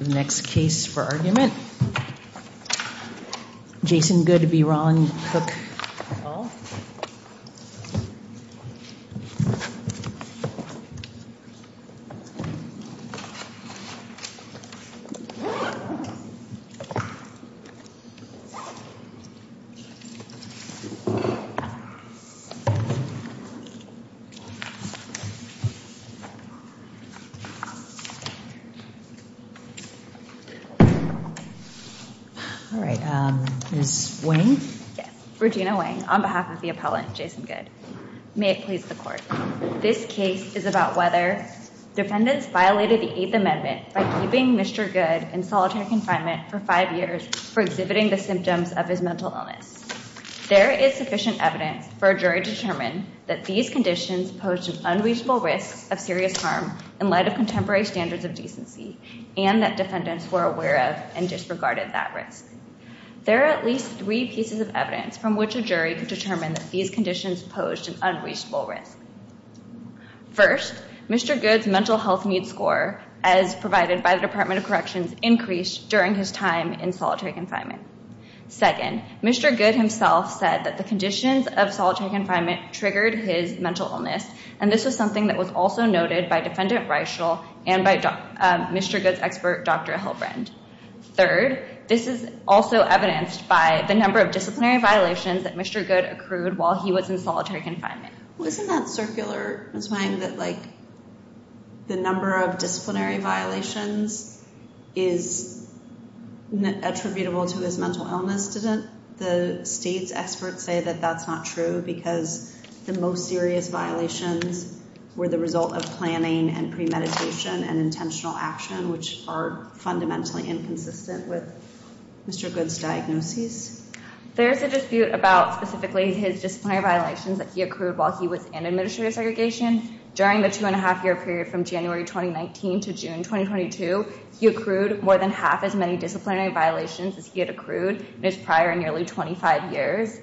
The next case for argument, Jason Goode v. Ron Cook. This case is about whether defendants violated the Eighth Amendment by keeping Mr. Goode in solitary confinement for five years for exhibiting the symptoms of his mental illness. There is sufficient evidence for a jury to determine that these conditions posed an unreasonable risk of serious harm in light of contemporary standards of decency, and that defendants were aware of and disregarded that risk. There are at least three pieces of evidence from which a jury could determine that these conditions posed an unreasonable risk. First, Mr. Goode's mental health needs score, as provided by the Department of Corrections, increased during his time in solitary confinement. Second, Mr. Goode himself said that the conditions of solitary confinement triggered his mental illness, and this was something that was also noted by Defendant Reichel and by Mr. Goode's expert, Dr. Hilbrand. Third, this is also evidenced by the number of disciplinary violations that Mr. Goode accrued while he was in solitary confinement. Well, isn't that circular? I'm just wondering that, like, the number of disciplinary violations is attributable to his mental illness, isn't it? The state's experts say that that's not true because the most serious violations were the result of planning and premeditation and intentional action, which are fundamentally inconsistent with Mr. Goode's diagnosis. There's a dispute about specifically his disciplinary violations that he accrued while he was in administrative segregation. During the two-and-a-half-year period from January 2019 to June 2022, he accrued more than half as many disciplinary violations as he had accrued in his prior nearly 25 years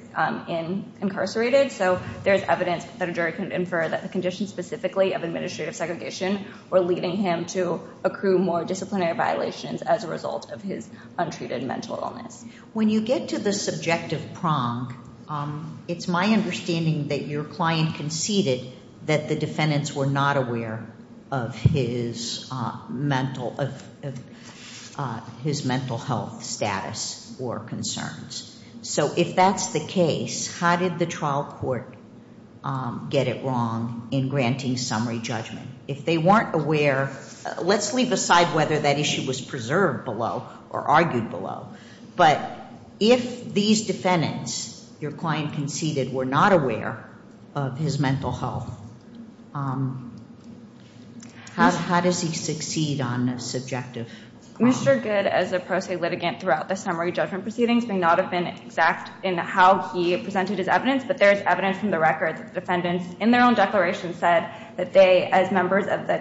incarcerated. So there's evidence that a jury could infer that the conditions specifically of administrative segregation were leading him to accrue more disciplinary violations as a result of his untreated mental illness. When you get to the subjective prong, it's my understanding that your client conceded that the defendants were not aware of his mental health status or concerns. So if that's the case, how did the trial court get it wrong in granting summary judgment? If they weren't aware, let's leave aside whether that issue was preserved below or argued below. But if these defendants, your client conceded, were not aware of his mental health, how does he succeed on a subjective prong? Mr. Goode, as a pro se litigant throughout the summary judgment proceedings, may not have been exact in how he presented his evidence. But there is evidence from the records that defendants in their own declaration said that they, as members of the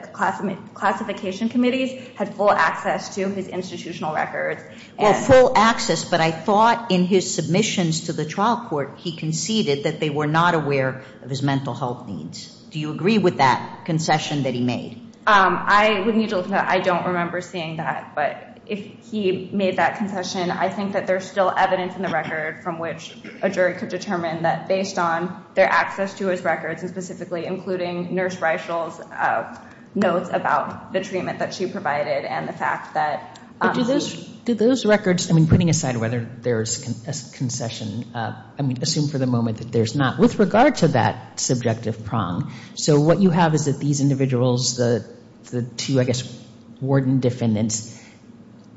classification committees, had full access to his institutional records. Well, full access, but I thought in his submissions to the trial court, he conceded that they were not aware of his mental health needs. Do you agree with that concession that he made? I would need to look into that. I don't remember seeing that. But if he made that concession, I think that there's still evidence in the record from which a jury could determine that, based on their access to his records, and specifically including Nurse Reichel's notes about the treatment that she provided and the fact that— But do those records—I mean, putting aside whether there's a concession, I mean, assume for the moment that there's not, with regard to that subjective prong. So what you have is that these individuals, the two, I guess, warden defendants,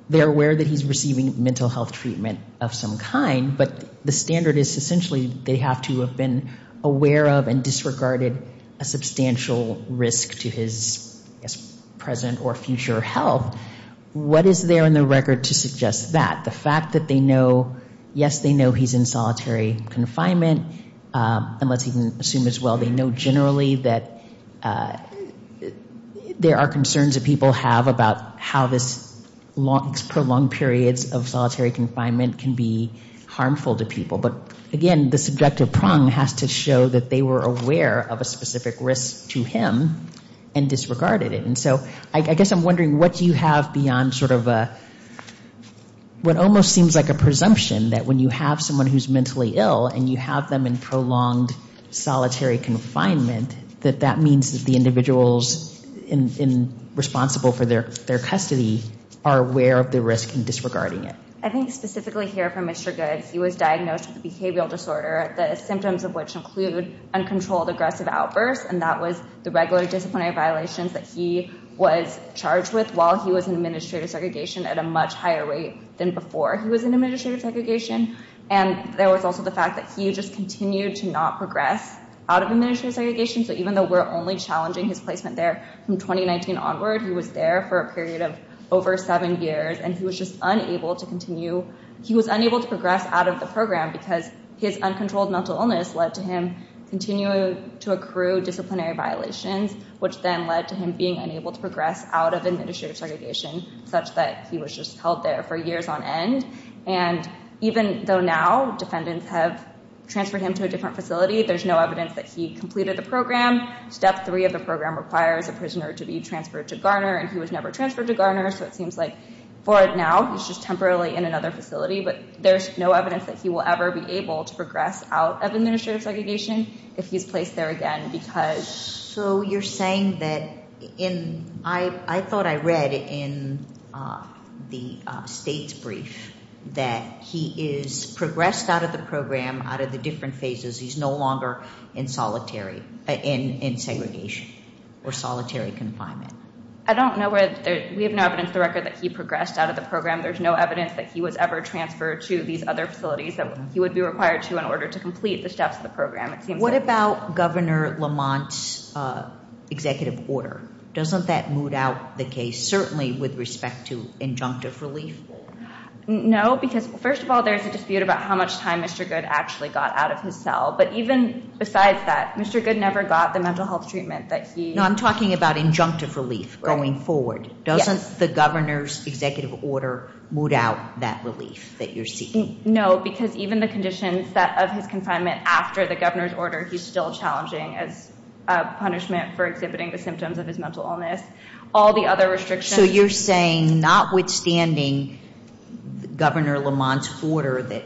they're aware that he's receiving mental health treatment of some kind, but the standard is essentially they have to have been aware of and disregarded a substantial risk to his present or future health. What is there in the record to suggest that? The fact that they know, yes, they know he's in solitary confinement, unless he can assume as well, they know generally that there are concerns that people have about how this prolonged periods of solitary confinement can be harmful to people. But, again, the subjective prong has to show that they were aware of a specific risk to him and disregarded it. And so I guess I'm wondering what you have beyond sort of a—what almost seems like a presumption that when you have someone who's mentally ill and you have them in prolonged solitary confinement, that that means that the individuals responsible for their custody are aware of the risk and disregarding it. I think specifically here for Mr. Goode, he was diagnosed with a behavioral disorder, the symptoms of which include uncontrolled aggressive outbursts, and that was the regular disciplinary violations that he was charged with while he was in administrative segregation at a much higher rate than before he was in administrative segregation. And there was also the fact that he just continued to not progress out of administrative segregation. So even though we're only challenging his placement there from 2019 onward, he was there for a period of over seven years, and he was just unable to continue—he was unable to progress out of the program because his uncontrolled mental illness led to him continuing to accrue disciplinary violations, which then led to him being unable to progress out of administrative segregation, such that he was just held there for years on end. And even though now defendants have transferred him to a different facility, there's no evidence that he completed the program. Step three of the program requires a prisoner to be transferred to Garner, and he was never transferred to Garner. So it seems like for now he's just temporarily in another facility, but there's no evidence that he will ever be able to progress out of administrative segregation if he's placed there again because— So you're saying that in—I thought I read in the state's brief that he has progressed out of the program out of the different phases. He's no longer in solitary—in segregation or solitary confinement. I don't know where—we have no evidence of the record that he progressed out of the program. There's no evidence that he was ever transferred to these other facilities that he would be required to in order to complete the steps of the program, it seems like. What about Governor Lamont's executive order? Doesn't that moot out the case, certainly with respect to injunctive relief? No, because, first of all, there is a dispute about how much time Mr. Goode actually got out of his cell. But even besides that, Mr. Goode never got the mental health treatment that he— No, I'm talking about injunctive relief going forward. Doesn't the governor's executive order moot out that relief that you're seeking? No, because even the conditions of his confinement after the governor's order, he's still challenging as punishment for exhibiting the symptoms of his mental illness. All the other restrictions— So you're saying, notwithstanding Governor Lamont's order that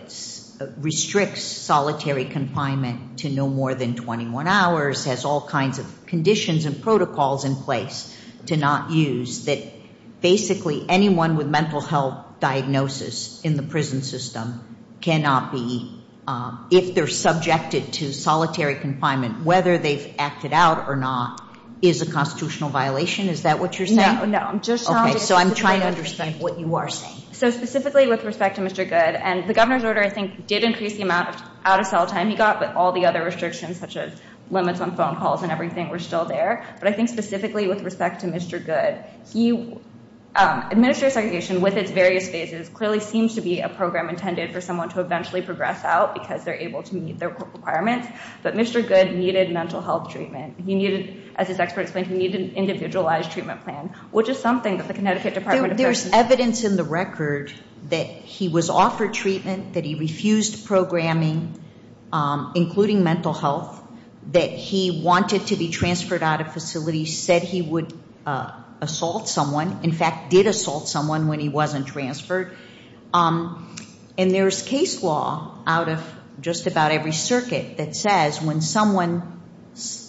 restricts solitary confinement to no more than 21 hours, has all kinds of conditions and protocols in place to not use, that basically anyone with mental health diagnosis in the prison system cannot be, if they're subjected to solitary confinement, whether they've acted out or not, is a constitutional violation? Is that what you're saying? No, no. Okay, so I'm trying to understand what you are saying. So specifically with respect to Mr. Goode, and the governor's order, I think, did increase the amount of out-of-cell time he got, but all the other restrictions, such as limits on phone calls and everything, were still there. But I think specifically with respect to Mr. Goode, he—administrative segregation, with its various phases, clearly seems to be a program intended for someone to eventually progress out because they're able to meet their requirements. But Mr. Goode needed mental health treatment. He needed, as his expert explained, he needed an individualized treatment plan, which is something that the Connecticut Department of Prison— There's evidence in the record that he was offered treatment, that he refused programming, including mental health, that he wanted to be transferred out of facility, said he would assault someone, in fact, did assault someone when he wasn't transferred. And there's case law out of just about every circuit that says when someone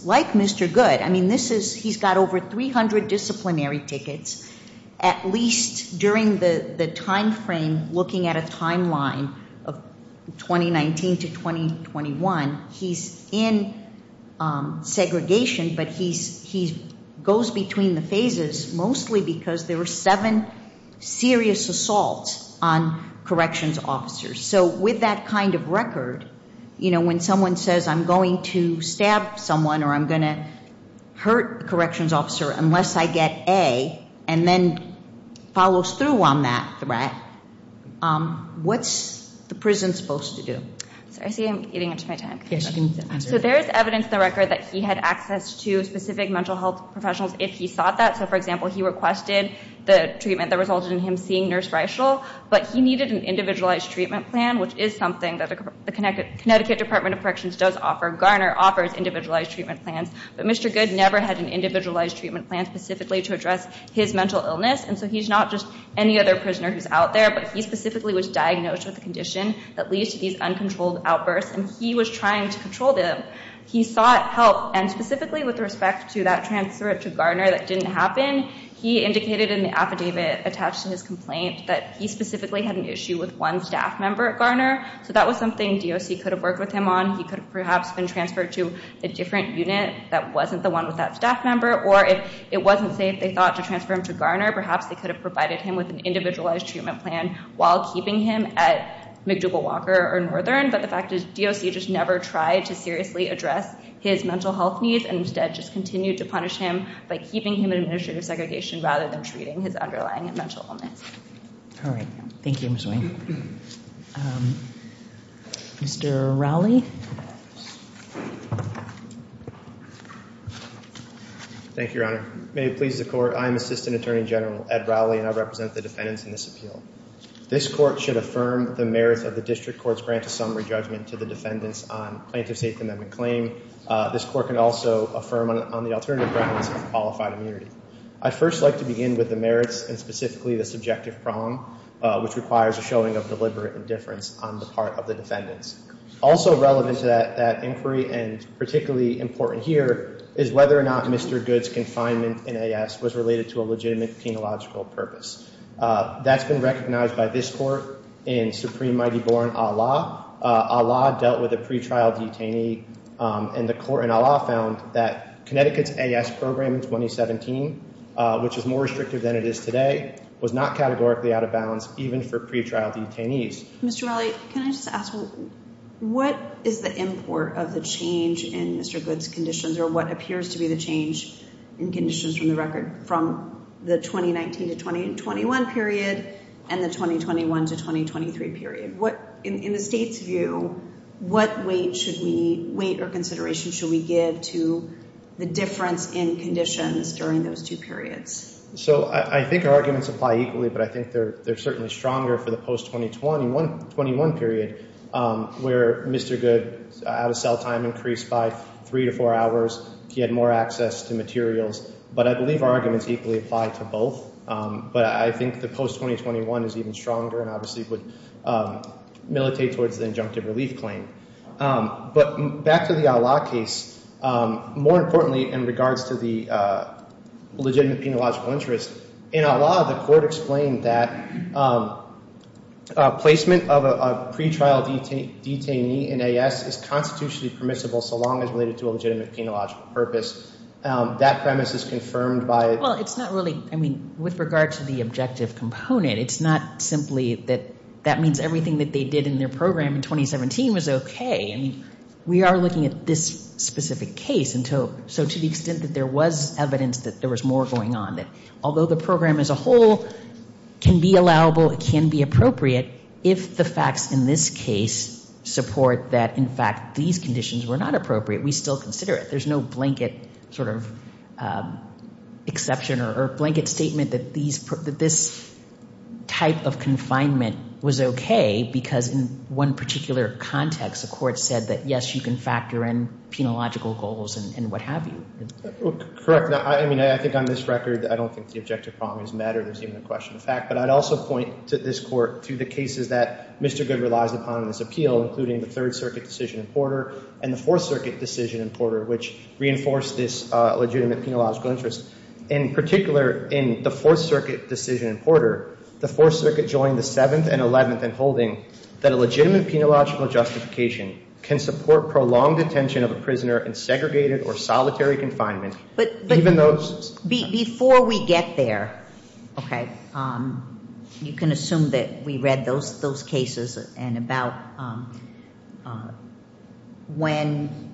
like Mr. Goode— I mean, this is—he's got over 300 disciplinary tickets. At least during the timeframe, looking at a timeline of 2019 to 2021, he's in segregation, but he goes between the phases mostly because there were seven serious assaults on corrections officers. So with that kind of record, you know, when someone says, I'm going to stab someone or I'm going to hurt a corrections officer unless I get A, and then follows through on that threat, what's the prison supposed to do? Sorry, I see I'm eating into my time. So there's evidence in the record that he had access to specific mental health professionals if he sought that. So, for example, he requested the treatment that resulted in him seeing Nurse Reichel, but he needed an individualized treatment plan, which is something that the Connecticut Department of Corrections does offer. Garner offers individualized treatment plans, but Mr. Goode never had an individualized treatment plan specifically to address his mental illness. And so he's not just any other prisoner who's out there, but he specifically was diagnosed with a condition that leads to these uncontrolled outbursts, and he was trying to control them. He sought help, and specifically with respect to that transfer to Garner that didn't happen, he indicated in the affidavit attached to his complaint that he specifically had an issue with one staff member at Garner, so that was something DOC could have worked with him on. He could have perhaps been transferred to a different unit that wasn't the one with that staff member, or if it wasn't safe, they thought, to transfer him to Garner, perhaps they could have provided him with an individualized treatment plan while keeping him at McDougall Walker or Northern, but the fact is DOC just never tried to seriously address his mental health needs and instead just continued to punish him by keeping him in administrative segregation rather than treating his underlying mental illness. All right. Thank you, Ms. Wayne. Mr. Rowley? Thank you, Your Honor. May it please the Court, I am Assistant Attorney General Ed Rowley, and I represent the defendants in this appeal. This court should affirm the merits of the district court's grant of summary judgment to the defendants on plaintiff's eighth amendment claim. This court can also affirm on the alternative grounds of qualified immunity. I'd first like to begin with the merits and specifically the subjective prong, which requires a showing of deliberate indifference on the part of the defendants. Also relevant to that inquiry, and particularly important here, is whether or not Mr. Goode's confinement in AS was related to a legitimate penological purpose. That's been recognized by this court in Supreme Mighty Bourne, Allah. Allah dealt with a pretrial detainee, and the court in Allah found that Connecticut's AS program in 2017, which is more restrictive than it is today, was not categorically out of balance even for pretrial detainees. Mr. Rowley, can I just ask, what is the import of the change in Mr. Goode's conditions or what appears to be the change in conditions from the record from the 2019 to 2021 period and the 2021 to 2023 period? In the state's view, what weight or consideration should we give to the difference in conditions during those two periods? I think our arguments apply equally, but I think they're certainly stronger for the post-2021 period where Mr. Goode's out-of-cell time increased by three to four hours. He had more access to materials, but I believe our arguments equally apply to both. But I think the post-2021 is even stronger and obviously would militate towards the injunctive relief claim. But back to the Allah case, more importantly in regards to the legitimate penological interest, in Allah, the court explained that placement of a pretrial detainee in AS is constitutionally permissible so long as related to a legitimate penological purpose. That premise is confirmed by— I mean, with regard to the objective component, it's not simply that that means everything that they did in their program in 2017 was okay. I mean, we are looking at this specific case. So to the extent that there was evidence that there was more going on, that although the program as a whole can be allowable, it can be appropriate, if the facts in this case support that, in fact, these conditions were not appropriate, we still consider it. There's no blanket sort of exception or blanket statement that this type of confinement was okay because in one particular context, the court said that, yes, you can factor in penological goals and what have you. Correct. I mean, I think on this record, I don't think the objective problems matter. There's even a question of fact. But I'd also point to this court, to the cases that Mr. Goode relies upon in this appeal, including the Third Circuit decision in Porter and the Fourth Circuit decision in Porter, which reinforced this legitimate penological interest. In particular, in the Fourth Circuit decision in Porter, the Fourth Circuit joined the Seventh and Eleventh in holding that a legitimate penological justification can support prolonged detention of a prisoner in segregated or solitary confinement, even though— Before we get there, okay, you can assume that we read those cases and about when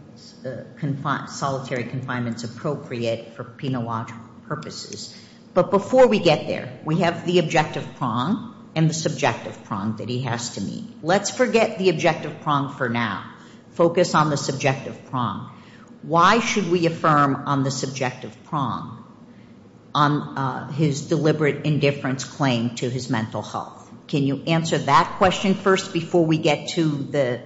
solitary confinement is appropriate for penological purposes. But before we get there, we have the objective prong and the subjective prong that he has to meet. Let's forget the objective prong for now. Focus on the subjective prong. Why should we affirm on the subjective prong on his deliberate indifference claim to his mental health? Can you answer that question first before we get to the—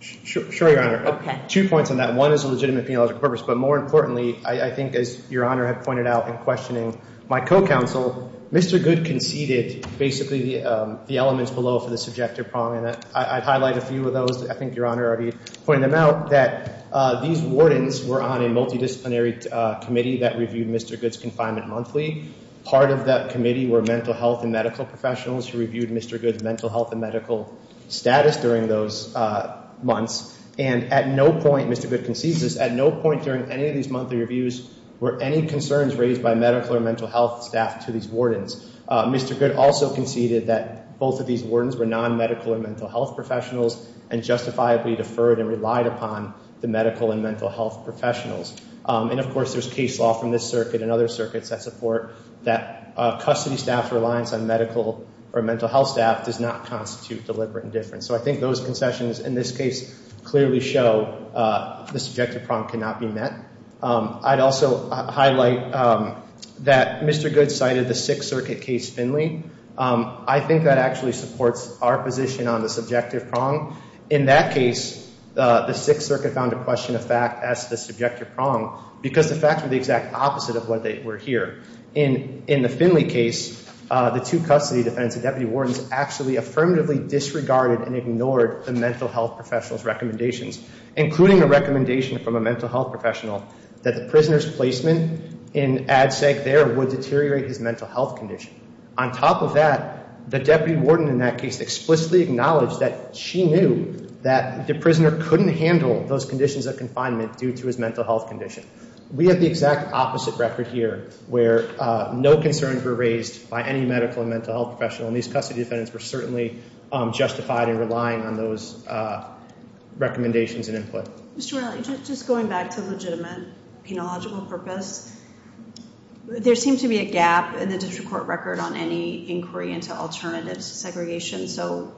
Sure, Your Honor. Okay. Two points on that. One is a legitimate penological purpose. But more importantly, I think as Your Honor had pointed out in questioning my co-counsel, Mr. Goode conceded basically the elements below for the subjective prong. I'd highlight a few of those. I think Your Honor already pointed them out, that these wardens were on a multidisciplinary committee that reviewed Mr. Goode's confinement monthly. Part of that committee were mental health and medical professionals who reviewed Mr. Goode's mental health and medical status during those months. And at no point, Mr. Goode concedes this, at no point during any of these monthly reviews were any concerns raised by medical or mental health staff to these wardens. Mr. Goode also conceded that both of these wardens were non-medical or mental health professionals and justifiably deferred and relied upon the medical and mental health professionals. And, of course, there's case law from this circuit and other circuits that support that custody staff's reliance on medical or mental health staff does not constitute deliberate indifference. So I think those concessions in this case clearly show the subjective prong cannot be met. I'd also highlight that Mr. Goode cited the Sixth Circuit case Finley. I think that actually supports our position on the subjective prong. In that case, the Sixth Circuit found a question of fact as the subjective prong because the facts were the exact opposite of what they were here. In the Finley case, the two custody defendants and deputy wardens actually affirmatively disregarded and ignored the mental health professionals' recommendations, including a recommendation from a mental health professional that the prisoner's placement in ADSEC there would deteriorate his mental health condition. On top of that, the deputy warden in that case explicitly acknowledged that she knew that the prisoner couldn't handle those conditions of confinement due to his mental health condition. We have the exact opposite record here where no concerns were raised by any medical and mental health professional, and these custody defendants were certainly justified in relying on those recommendations and input. Mr. Raleigh, just going back to legitimate penological purpose, there seemed to be a gap in the district court record on any inquiry into alternatives to segregation, so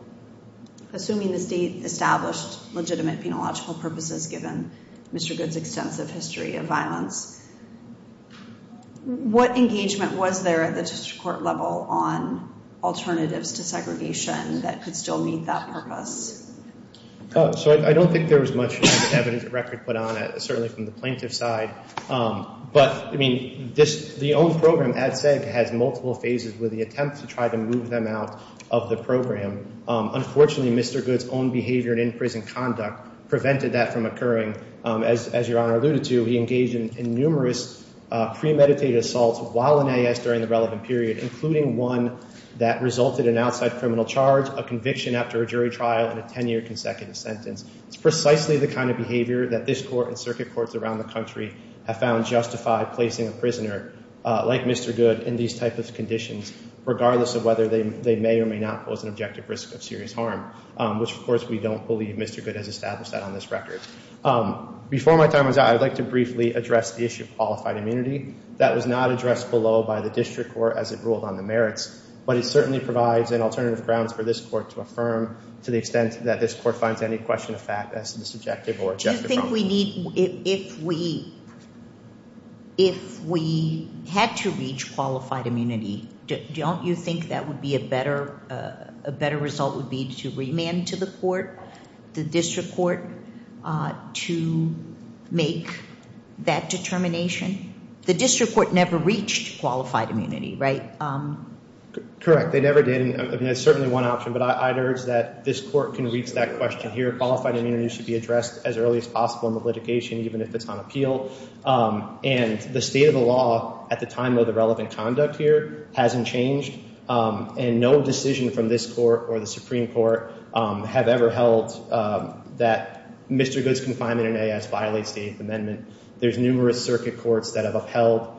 assuming the state established legitimate penological purposes given Mr. Goode's extensive history of violence, what engagement was there at the district court level on alternatives to segregation that could still meet that purpose? So I don't think there was much evidence of record put on it, certainly from the plaintiff's side. But, I mean, the old program, ADSEC, has multiple phases with the attempt to try to move them out of the program. Unfortunately, Mr. Goode's own behavior and in-prison conduct prevented that from occurring. As Your Honor alluded to, he engaged in numerous premeditated assaults while in A.S. during the relevant period, including one that resulted in outside criminal charge, a conviction after a jury trial, and a 10-year consecutive sentence. It's precisely the kind of behavior that this court and circuit courts around the country have found justified placing a prisoner like Mr. Goode in these type of conditions, regardless of whether they may or may not pose an objective risk of serious harm, which, of course, we don't believe Mr. Goode has established that on this record. Before my time is up, I'd like to briefly address the issue of qualified immunity. That was not addressed below by the district court as it ruled on the merits, but it certainly provides an alternative grounds for this court to affirm to the extent that this court finds any question of fact as to this objective or objective problem. If we need, if we, if we had to reach qualified immunity, don't you think that would be a better, a better result would be to remand to the court, the district court, to make that determination? The district court never reached qualified immunity, right? Correct. They never did. I mean, it's certainly one option, but I'd urge that this court can reach that question here. Qualified immunity should be addressed as early as possible in the litigation, even if it's on appeal. And the state of the law at the time of the relevant conduct here hasn't changed. And no decision from this court or the Supreme Court have ever held that Mr. Goode's confinement in A.S. violates the Eighth Amendment. There's numerous circuit courts that have upheld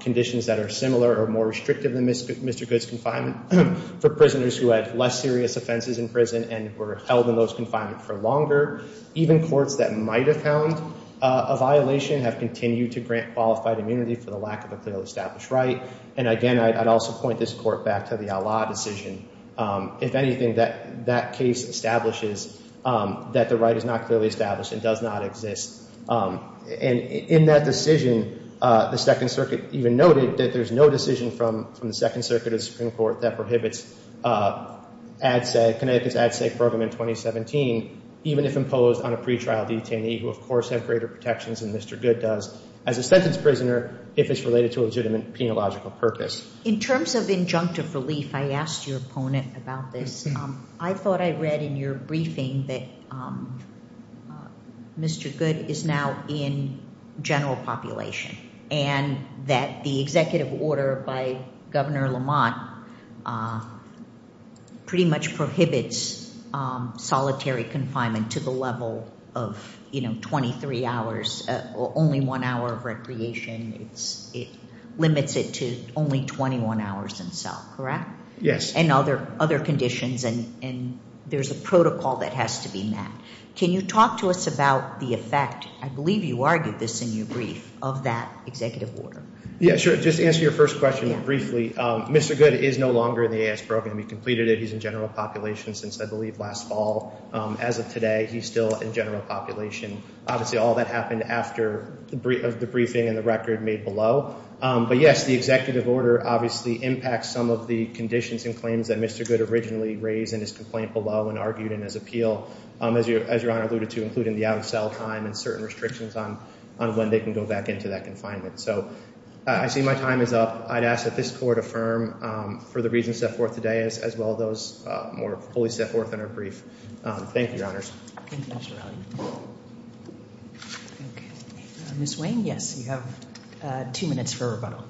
conditions that are similar or more restrictive than Mr. Goode's confinement for prisoners who had less serious offenses in prison and were held in those confinement for longer. Even courts that might have found a violation have continued to grant qualified immunity for the lack of a clearly established right. And again, I'd also point this court back to the outlaw decision. If anything, that case establishes that the right is not clearly established and does not exist. And in that decision, the Second Circuit even noted that there's no decision from the Second Circuit of the Supreme Court that prohibits Connecticut's ad sec program in 2017, even if imposed on a pretrial detainee, who of course have greater protections than Mr. Goode does as a sentence prisoner, if it's related to a legitimate penological purpose. In terms of injunctive relief, I asked your opponent about this. I thought I read in your briefing that Mr. Goode is now in general population and that the executive order by Governor Lamont pretty much prohibits solitary confinement to the level of 23 hours, only one hour of recreation. It limits it to only 21 hours in cell, correct? Yes. And other conditions, and there's a protocol that has to be met. Can you talk to us about the effect, I believe you argued this in your brief, of that executive order? Yeah, sure. Just to answer your first question briefly, Mr. Goode is no longer in the AS program. He completed it. He's in general population since I believe last fall. As of today, he's still in general population. Obviously, all that happened after the briefing and the record made below. But yes, the executive order obviously impacts some of the conditions and claims that Mr. Goode originally raised in his complaint below and argued in his appeal, as Your Honor alluded to, including the out-of-cell time and certain restrictions on when they can go back into that confinement. So I see my time is up. I'd ask that this Court affirm for the reasons set forth today as well as those more fully set forth in our brief. Thank you, Your Honors. Thank you, Mr. Riley. Okay. Ms. Wayne, yes, you have two minutes for rebuttal.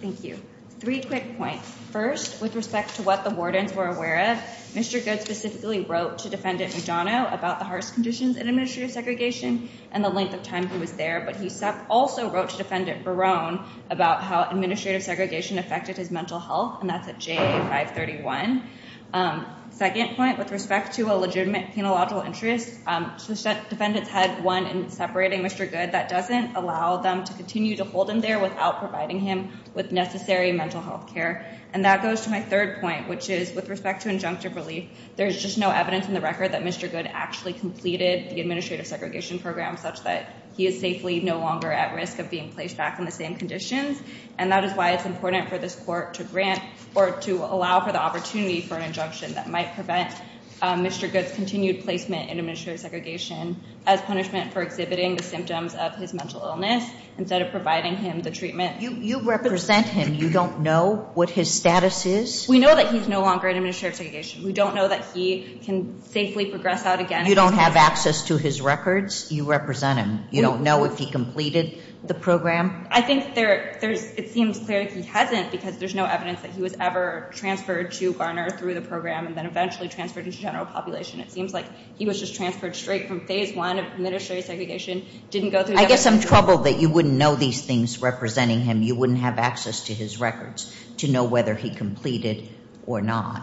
Thank you. Three quick points. First, with respect to what the wardens were aware of, Mr. Goode specifically wrote to Defendant Mugano about the harsh conditions in administrative segregation and the length of time he was there, but he also wrote to Defendant Barone about how administrative segregation affected his mental health, and that's at JA 531. Second point, with respect to a legitimate penological interest, the defendants had one in separating Mr. Goode that doesn't allow them to continue to hold him there without providing him with necessary mental health care. And that goes to my third point, which is with respect to injunctive relief, there's just no evidence in the record that Mr. Goode actually completed the administrative segregation program such that he is safely no longer at risk of being placed back in the same conditions, and that is why it's important for this court to grant or to allow for the opportunity for an injunction that might prevent Mr. Goode's continued placement in administrative segregation as punishment for exhibiting the symptoms of his mental illness instead of providing him the treatment. You represent him. You don't know what his status is? We know that he's no longer in administrative segregation. We don't know that he can safely progress out again. You don't have access to his records? You represent him. You don't know if he completed the program? I think it seems clear that he hasn't because there's no evidence that he was ever transferred to Garner through the program and then eventually transferred into general population. It seems like he was just transferred straight from phase one of administrative segregation. I guess I'm troubled that you wouldn't know these things representing him. You wouldn't have access to his records to know whether he completed or not.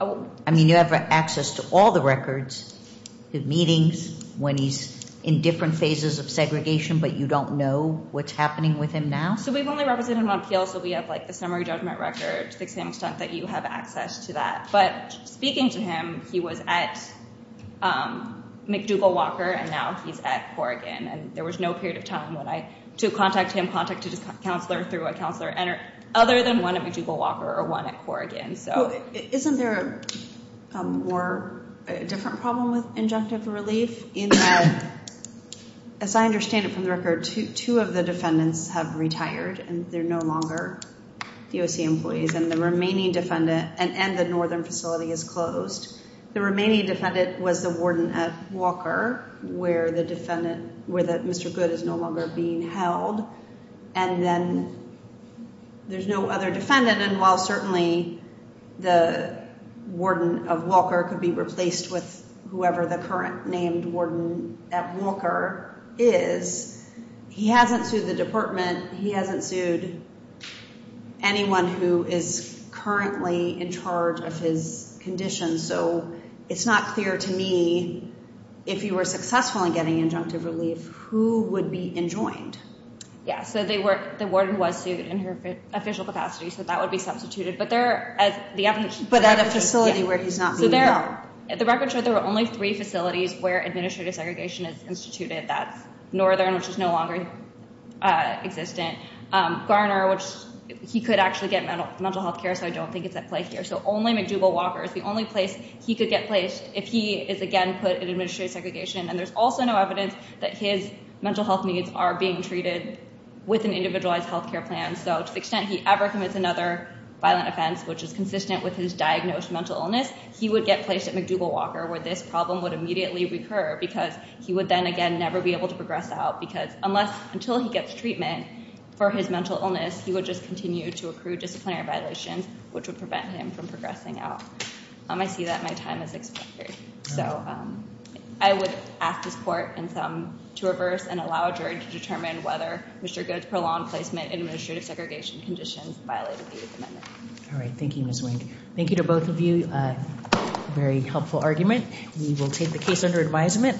I mean, you have access to all the records, the meetings, when he's in different phases of segregation, but you don't know what's happening with him now? So we've only represented him on appeal, so we have the summary judgment record, to the extent that you have access to that. But speaking to him, he was at McDougall-Walker, and now he's at Corrigan. And there was no period of time to contact him, contact his counselor, through a counselor other than one at McDougall-Walker or one at Corrigan. Isn't there a different problem with injunctive relief? As I understand it from the record, two of the defendants have retired, and they're no longer DOC employees, and the remaining defendant and the northern facility is closed. The remaining defendant was the warden at Walker, where Mr. Good is no longer being held. And then there's no other defendant, and while certainly the warden of Walker could be replaced with whoever the current named warden at Walker is, he hasn't sued the department. He hasn't sued anyone who is currently in charge of his condition. So it's not clear to me, if he were successful in getting injunctive relief, who would be enjoined. Yeah, so the warden was sued in her official capacity, so that would be substituted. But at a facility where he's not being held? At the record show, there were only three facilities where administrative segregation is instituted. That's Northern, which is no longer existent. Garner, which he could actually get mental health care, so I don't think it's at play here. So only McDougall-Walker is the only place he could get placed if he is, again, put in administrative segregation. And there's also no evidence that his mental health needs are being treated with an individualized health care plan. So to the extent he ever commits another violent offense, which is consistent with his diagnosed mental illness, he would get placed at McDougall-Walker, where this problem would immediately recur, because he would then, again, never be able to progress out. Because unless, until he gets treatment for his mental illness, he would just continue to accrue disciplinary violations, which would prevent him from progressing out. I see that my time is expired. So I would ask this Court and some to reverse and allow a jury to determine whether Mr. Goode's prolonged placement in administrative segregation conditions violated the Eighth Amendment. All right. Thank you, Ms. Wink. Thank you to both of you. Very helpful argument. We will take the case under advisement.